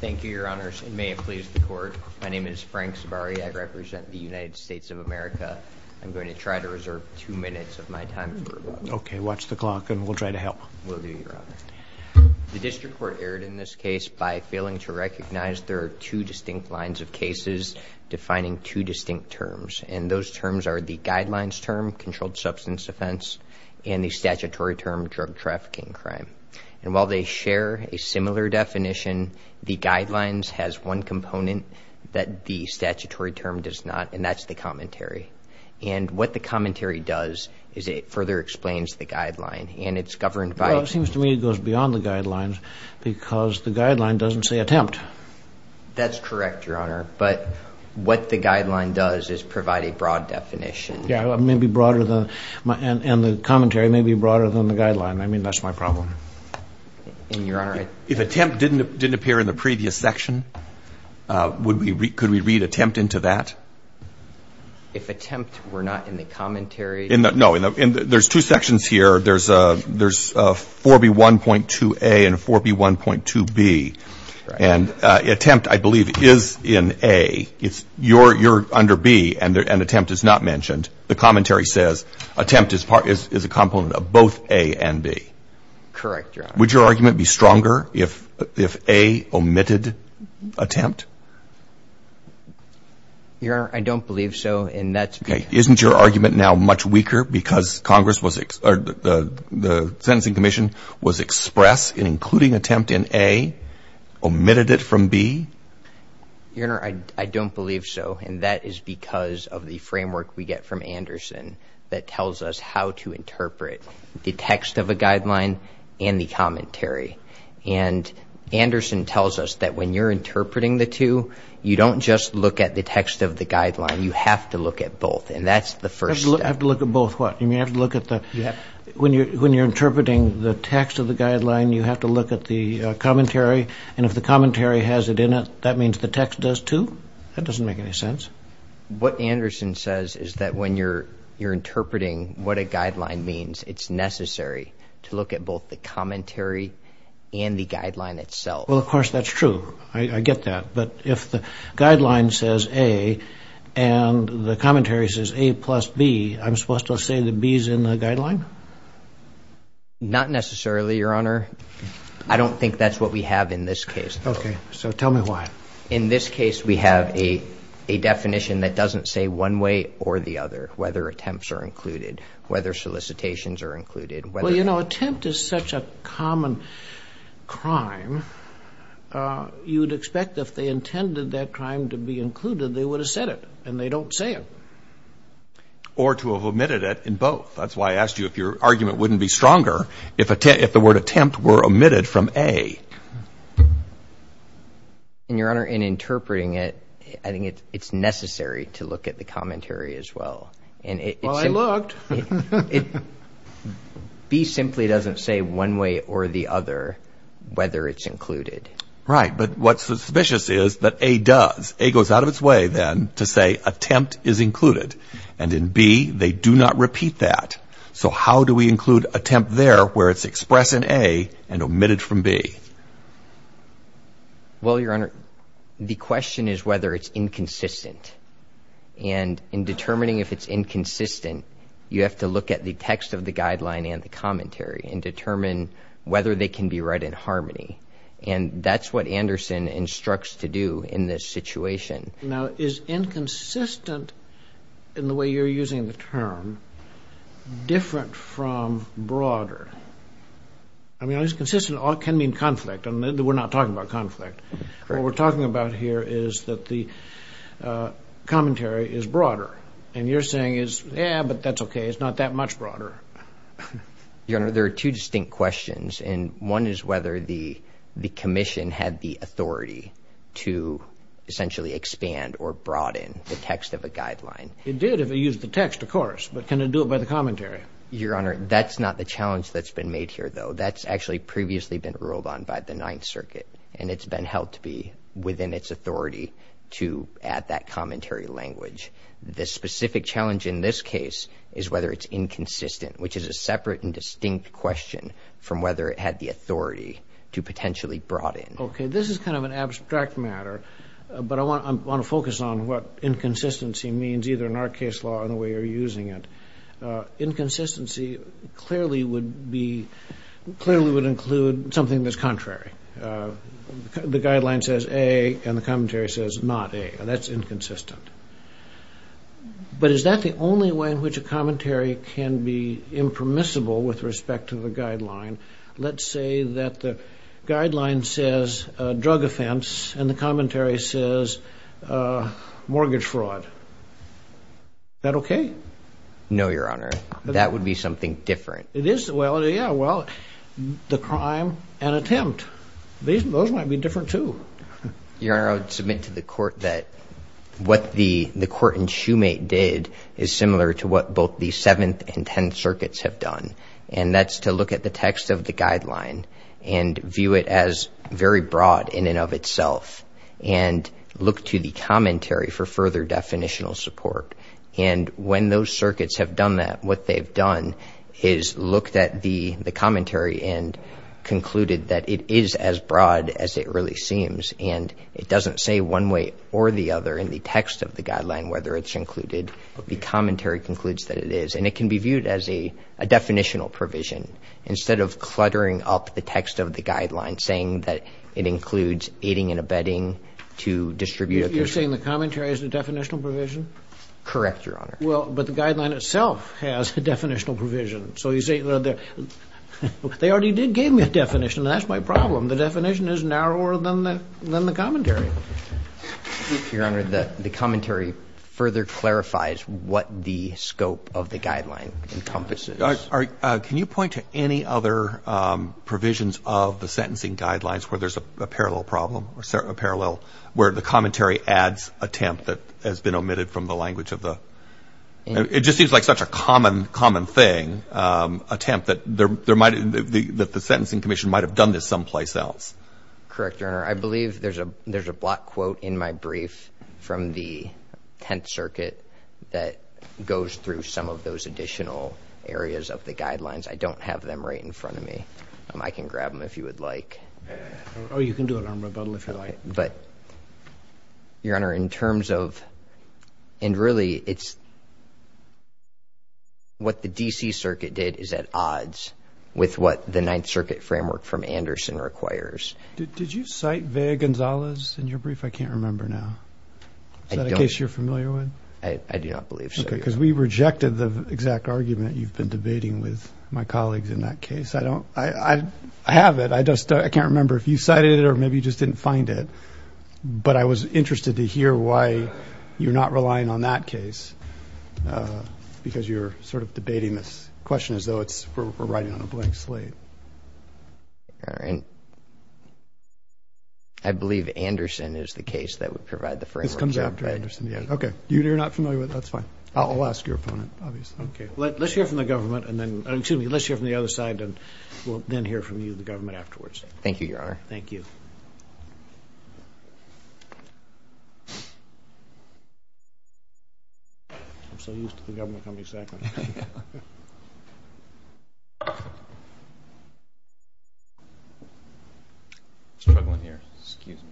Thank you, Your Honors, and may it please the Court, my name is Frank Zavarri, I represent the United States of America. I'm going to try to reserve two minutes of my time for a moment. Okay, watch the clock and we'll try to help. Will do, Your Honor. The District Court erred in this case by failing to recognize there are two distinct lines of cases defining two distinct terms, and those terms are the guidelines term, controlled substance offense, and the statutory term, drug trafficking crime. And while they share a similar definition, the guidelines has one component that the statutory term does not, and that's the commentary. And what the commentary does is it further explains the guideline, and it's governed by... Well, it seems to me it goes beyond the guidelines because the guideline doesn't say attempt. That's correct, Your Honor, but what the guideline does is provide a broad definition. Yeah, it may be broader than, and the commentary may be broader than the guideline. I mean, that's my problem. And, Your Honor, I... If attempt didn't appear in the previous section, would we, could we read attempt into that? If attempt were not in the commentary... No, there's two sections here. There's 4B1.2A and 4B1.2B, and attempt, I believe, is in A. You're under B, and attempt is not mentioned. The commentary says attempt is a component of both A and B. Correct, Your Honor. Would your argument be stronger if A omitted attempt? Your Honor, I don't believe so, and that's... Okay. Isn't your argument now much weaker because Congress was, or the Sentencing Commission was express in including attempt in A, omitted it from B? Your Honor, I don't believe so, and that is because of the framework we get from Anderson that tells us how to interpret the text of a guideline and the commentary. And Anderson tells us that when you're interpreting the two, you don't just look at the text of the guideline. You have to look at both, and that's the first step. I have to look at both what? You mean I have to look at the... Yeah. When you're interpreting the text of the guideline, you have to look at the commentary, and if the commentary has it in it, that means the text does too? That doesn't make any sense. What Anderson says is that when you're interpreting what a guideline means, it's necessary to look at both the commentary and the guideline itself. Well, of course, that's true. I get that, but if the guideline says A and the commentary says A plus B, I'm supposed to say the B's in the guideline? Not necessarily, Your Honor. I don't think that's what we have in this case. Okay, so tell me why. In this case, we have a definition that doesn't say one way or the other, whether attempts are included, whether solicitations are included, whether... Well, you know, attempt is such a common crime, you'd expect if they or to have omitted it in both. That's why I asked you if your argument wouldn't be stronger if the word attempt were omitted from A. And, Your Honor, in interpreting it, I think it's necessary to look at the commentary as well. Well, I looked. B simply doesn't say one way or the other whether it's included. Right, but what's suspicious is that A does. A goes out of its way then to say attempt is included. And in B, they do not repeat that. So how do we include attempt there where it's expressed in A and omitted from B? Well, Your Honor, the question is whether it's inconsistent. And in determining if it's inconsistent, you have to look at the text of the guideline and the commentary and determine whether they can be read in harmony. And that's what Anderson instructs to do in this situation. Now, is inconsistent, in the way you're using the term, different from broader? I mean, inconsistent can mean conflict. And we're not talking about conflict. What we're talking about here is that the commentary is broader. And you're saying is, yeah, but that's okay. It's not that much broader. Your Honor, there are two distinct questions. And one is whether the commission had the authority to expand or broaden the text of a guideline. It did, if it used the text, of course. But can it do it by the commentary? Your Honor, that's not the challenge that's been made here, though. That's actually previously been ruled on by the Ninth Circuit. And it's been held to be within its authority to add that commentary language. The specific challenge in this case is whether it's inconsistent, which is a separate and distinct question from whether it had the authority to potentially broaden. Okay. This is kind of an abstract matter. But I want to focus on what inconsistency means, either in our case law or in the way you're using it. Inconsistency clearly would be, clearly would include something that's contrary. The guideline says A, and the commentary says not A. And that's inconsistent. But is that the only way in which a commentary can be impermissible with respect to the guideline says drug offense, and the commentary says mortgage fraud? Is that okay? No, Your Honor. That would be something different. It is? Well, yeah. Well, the crime and attempt. Those might be different, too. Your Honor, I would submit to the court that what the court in Shoemate did is similar to what both the Seventh and Tenth Circuits have done. And that's to look at the text of the guideline and view it as very broad in and of itself, and look to the commentary for further definitional support. And when those circuits have done that, what they've done is looked at the commentary and concluded that it is as broad as it really seems. And it doesn't say one way or the other in the text of the guideline whether it's included. The commentary concludes that it is. And it can be viewed as a definitional provision. Instead of cluttering up the text of the guideline, saying that it includes aiding and abetting to distribute a case. You're saying the commentary is a definitional provision? Correct, Your Honor. Well, but the guideline itself has a definitional provision. So you say, well, they already did give me a definition. That's my problem. The definition is narrower than the commentary. Your Honor, the commentary further clarifies what the scope of the guideline encompasses. Can you point to any other provisions of the sentencing guidelines where there's a parallel problem or a parallel where the commentary adds attempt that has been omitted from the language of the... It just seems like such a common thing, attempt that the sentencing commission might have done this someplace else. Correct, Your Honor. I believe there's a block quote in my brief from the Tenth Circuit that goes through some of those additional areas of the guidelines. I don't have them right in front of me. I can grab them if you would like. Oh, you can do it on rebuttal if you like. But, Your Honor, in terms of... And really, it's what the D.C. Circuit did is at odds with what the Ninth Circuit framework from Anderson requires. Did you cite Vea Gonzalez in your brief? I can't remember now. Is that a case you're familiar with? I do not believe so. Because we rejected the exact argument you've been debating with my colleagues in that case. I don't... I have it. I just... I can't remember if you cited it or maybe you just didn't find it. But I was interested to hear why you're not relying on that case because you're sort of debating this question as though we're writing on a blank slate. All right. I believe Anderson is the case that would provide the framework. This comes after Anderson, yeah. Okay. You're not familiar with it. That's fine. I'll ask your opponent, obviously. Okay. Let's hear from the government and then... Excuse me. Let's hear from the other side and we'll then hear from you, the government, afterwards. Thank you, Your Honor. Thank you. I'm so used to the government coming second. I'm struggling here. Excuse me.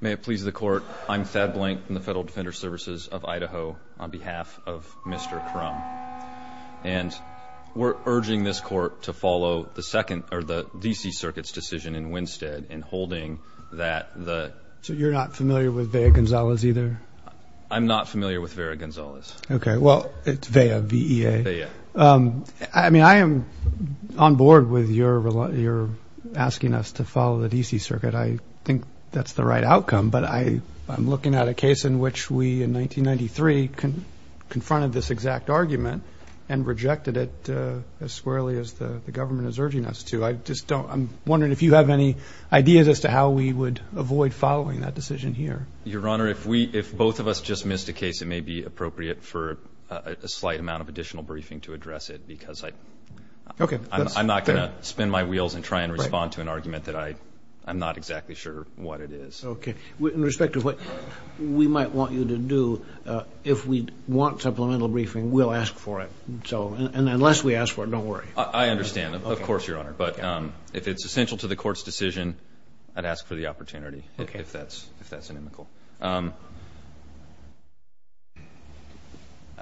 May it please the court, I'm Thad Blank from the Federal Defender Services of Idaho on behalf of Mr. Crum. And we're urging this court to follow the D.C. Circuit's decision in Winstead in holding that the... So you're not familiar with Vea Gonzalez either? I'm not familiar with Vea Gonzalez. Okay. Well, it's Vea, V-E-A. Vea. I mean, I am on board with your asking us to follow the D.C. Circuit. I think that's the right outcome. But I'm looking at a case in which we, in 1993, confronted this exact argument and rejected it as squarely as the government is urging us to. I just don't... I'm wondering if you have any ideas as to how we would avoid following that decision here. Your Honor, if both of us just missed a case, it may be appropriate for a slight amount of additional briefing to address it because I'm not going to spin my wheels and try and respond to an argument that I'm not exactly sure what it is. Okay. In respect of what we might want you to do, if we want supplemental briefing, we'll ask for it. So... And unless we ask for it, don't worry. I understand. Of course, Your Honor. But if it's essential to the Court's decision, I'd ask for the opportunity if that's... Okay. ...if that's inimical.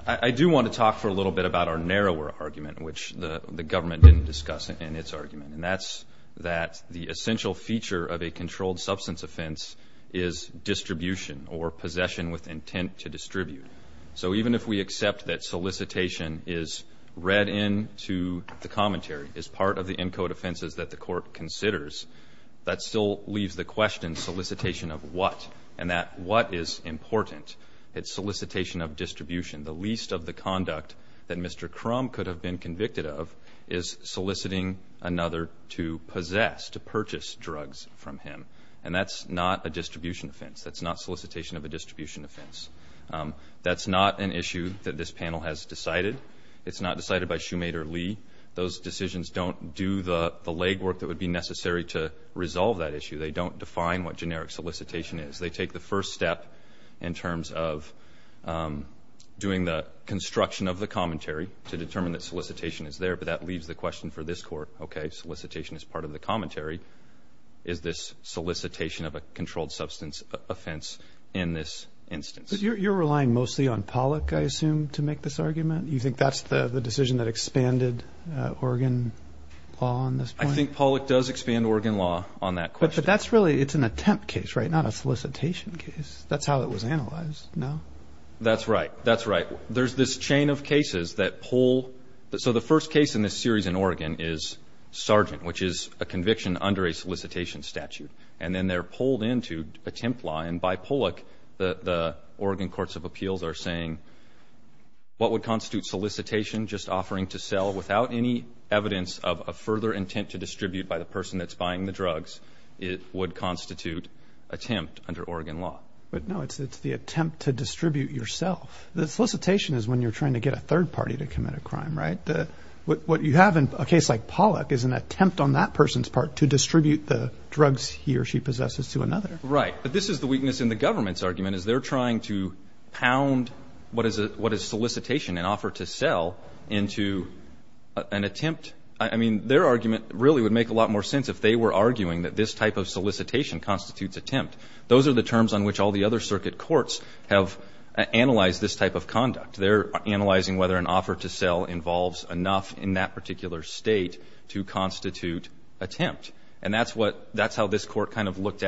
I do want to talk for a little bit about our narrower argument, which the government didn't discuss in its argument. And that's that the essential feature of a controlled substance offense is distribution or possession with intent to distribute. So even if we accept that solicitation is read into the commentary, is part of the ENCODE offenses that the Court considers, that still leaves the question, solicitation of what? And that what is important? It's solicitation of distribution. The least of the conduct that Mr. Crum could have been convicted of is soliciting another to possess, to purchase drugs from him. And that's not a distribution offense. That's not solicitation of a distribution offense. That's not an issue that this panel has decided. It's not decided by Shoemaker Lee. Those decisions don't do the legwork that would be necessary to resolve that issue. They don't define what generic solicitation is. They take the first step in terms of doing the construction of the commentary to determine that solicitation is there. But that leaves the question for this Court, okay, solicitation is part of the commentary. Is this solicitation of a controlled substance offense in this instance? You're relying mostly on Pollack, I assume, to make this argument? You think that's the decision that expanded Oregon law on this point? I think Pollack does expand Oregon law on that question. But that's really, it's an attempt case, right? Not a solicitation case. That's how it was analyzed, no? That's right. That's right. There's this chain of cases that pull. So the first case in this series in Oregon is Sargent, which is a conviction under a solicitation statute. And then they're appeals are saying, what would constitute solicitation? Just offering to sell without any evidence of a further intent to distribute by the person that's buying the drugs. It would constitute attempt under Oregon law. But no, it's the attempt to distribute yourself. The solicitation is when you're trying to get a third party to commit a crime, right? What you have in a case like Pollack is an attempt on that person's part to distribute the drugs he or she possesses to another. Right. But this is the weakness in the government's argument, is they're trying to pound what is solicitation and offer to sell into an attempt. I mean, their argument really would make a lot more sense if they were arguing that this type of solicitation constitutes attempt. Those are the terms on which all the other circuit courts have analyzed this type of conduct. They're analyzing whether an offer to sell involves enough in that particular state to constitute attempt. And that's what, that's how this Sandoval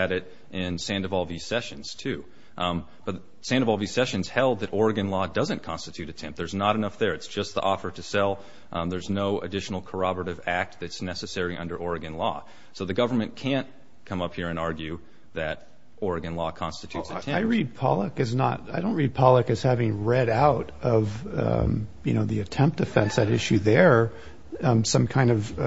v. Sessions, too. But Sandoval v. Sessions held that Oregon law doesn't constitute attempt. There's not enough there. It's just the offer to sell. There's no additional corroborative act that's necessary under Oregon law. So the government can't come up here and argue that Oregon law constitutes attempt. I read Pollack as not, I don't read Pollack as having read out of, you know, the attempt offense at issue there, some kind of,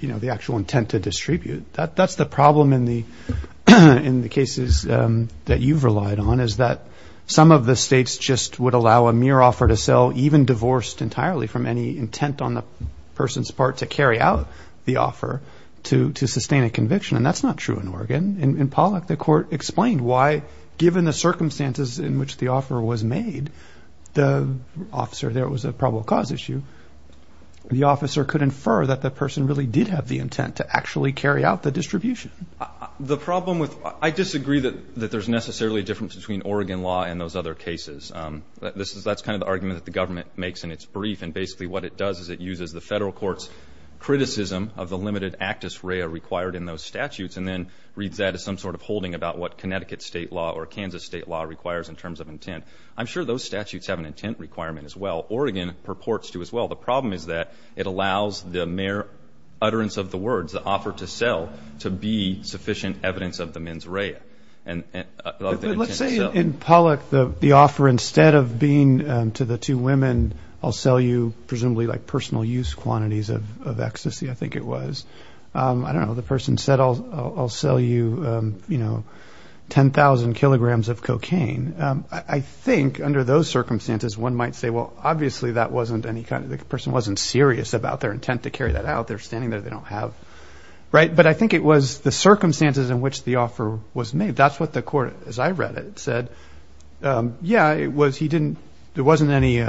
you know, the actual intent to distribute. That's the problem in the cases that you've relied on, is that some of the states just would allow a mere offer to sell, even divorced entirely from any intent on the person's part to carry out the offer to sustain a conviction. And that's not true in Oregon. In Pollack, the court explained why, given the circumstances in which the offer was made, the officer, there was a probable cause issue, the officer could infer that the person really did have the intent to actually carry out the distribution. The problem with, I disagree that there's necessarily a difference between Oregon law and those other cases. That's kind of the argument that the government makes in its brief. And basically what it does is it uses the federal court's criticism of the limited actus rea required in those statutes, and then reads that as some sort of holding about what Connecticut state law or Kansas state law requires in terms of intent. I'm sure those statutes have an intent requirement as well. Oregon purports to as well. The problem is that it allows the mere utterance of the words, the offer to sell, to be sufficient evidence of the mens rea. Let's say in Pollack, the offer instead of being to the two women, I'll sell you presumably like personal use quantities of ecstasy, I think it was. I don't know, the person said, I'll sell you 10,000 kilograms of cocaine. I think under those about their intent to carry that out. They're standing there, they don't have, right. But I think it was the circumstances in which the offer was made. That's what the court, as I read it, said. Yeah, it was, he didn't, there wasn't any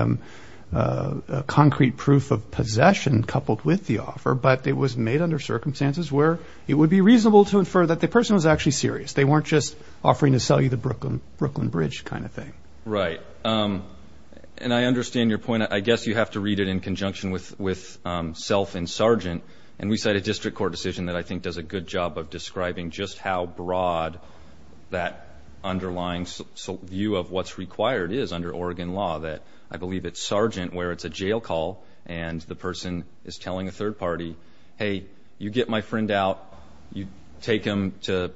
concrete proof of possession coupled with the offer, but it was made under circumstances where it would be reasonable to infer that the person was actually serious. They weren't just offering to sell you the Brooklyn, Brooklyn bridge kind of thing. Right. Um, and I understand your point. I guess you have to read it in conjunction with, with, um, self and sergeant. And we cite a district court decision that I think does a good job of describing just how broad that underlying view of what's required is under Oregon law that I believe it's sergeant where it's a jail call and the person is telling a third party, Hey, you get my friend out, you take him to,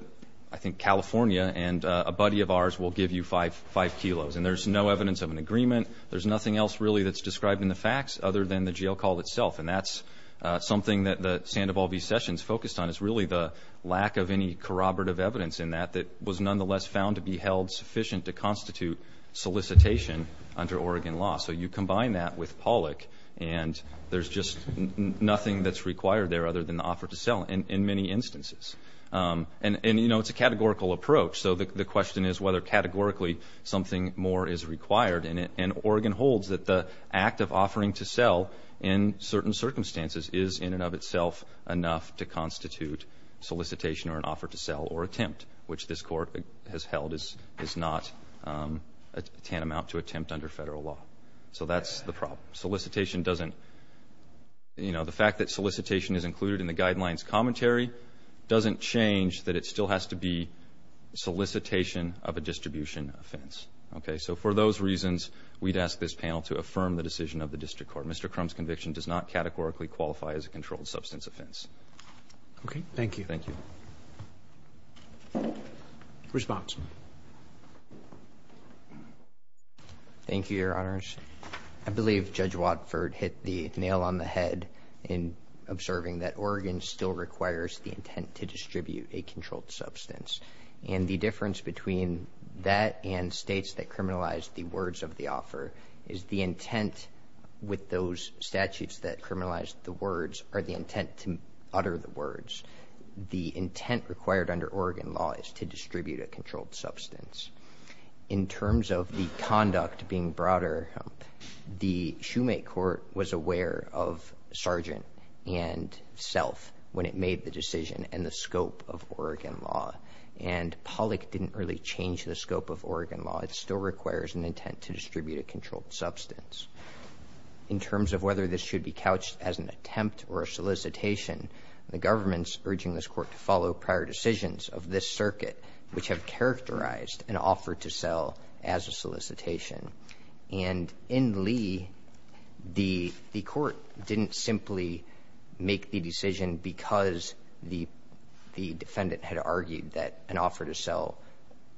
I think California and a buddy of ours will give you five, five kilos. And there's no evidence of an agreement. There's nothing else really that's described in the facts other than the jail call itself. And that's something that the Sandoval v. Sessions focused on is really the lack of any corroborative evidence in that, that was nonetheless found to be held sufficient to constitute solicitation under Oregon law. So you combine that with Pollack and there's just nothing that's required there other than the offer to sell in many instances. Um, and, and, you know, it's a categorical approach. So the question is whether categorically something more is required in it. And Oregon holds that the act of offering to sell in certain circumstances is in and of itself enough to constitute solicitation or an offer to sell or attempt, which this court has held is, is not, um, a tantamount to attempt under federal law. So that's the problem. Solicitation doesn't, you know, the fact that solicitation is included in the guidelines commentary doesn't change that it still has to be solicitation of a distribution offense. Okay. So for those reasons, we'd ask this panel to affirm the decision of the district court. Mr. Crum's conviction does not categorically qualify as a controlled substance offense. Okay. Thank you. Thank you. Response. Thank you, Your Honors. I believe Judge Watford hit the nail on the head in observing that Oregon still requires the intent to distribute a controlled substance. And the difference between that and states that criminalized the words of the offer is the intent with those statutes that criminalized the words are the intent to utter the words. The intent required under Oregon law is to distribute a controlled substance. In terms of the conduct being broader, the Shoemake court was aware of Sargent and Self when it made the decision and the scope of Oregon law. And Pollock didn't really change the scope of Oregon law. It still requires an intent to distribute a controlled substance. In terms of whether this should be couched as an attempt or a solicitation, the government's urging this court to follow prior decisions of this circuit, which have characterized an offer to sell as a solicitation. And in Lee, the court didn't simply make the decision because the defendant had argued that an offer to sell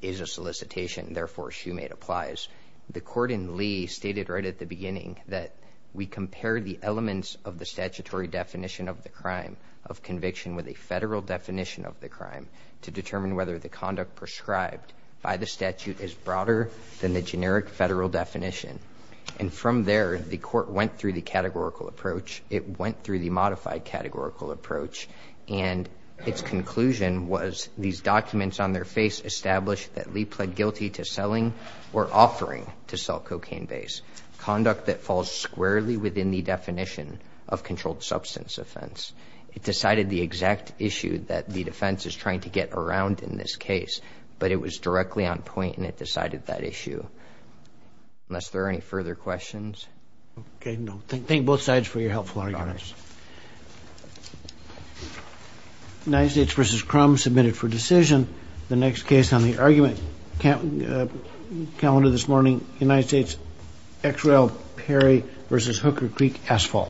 is a solicitation. Therefore, Shoemake applies. The court in Lee stated right at the beginning that we compare the elements of the statutory definition of the crime of conviction with a federal definition of the crime to determine whether the conduct prescribed by the statute is broader than the generic federal definition. And from there, the court went through the categorical approach. It went through the modified categorical approach. And its conclusion was these documents on their face established that Lee pled guilty to selling or offering to sell cocaine base conduct that falls squarely within the definition of controlled substance offense. It decided the exact issue that the defense is trying to get around in this case, but it was directly on point and it decided that issue. Unless there are any further questions. Okay. No, thank both sides for your helpful arguments. United States versus Crum submitted for decision. The next case on the argument calendar this morning, United States, XRL Perry versus Hooker Creek Asphalt.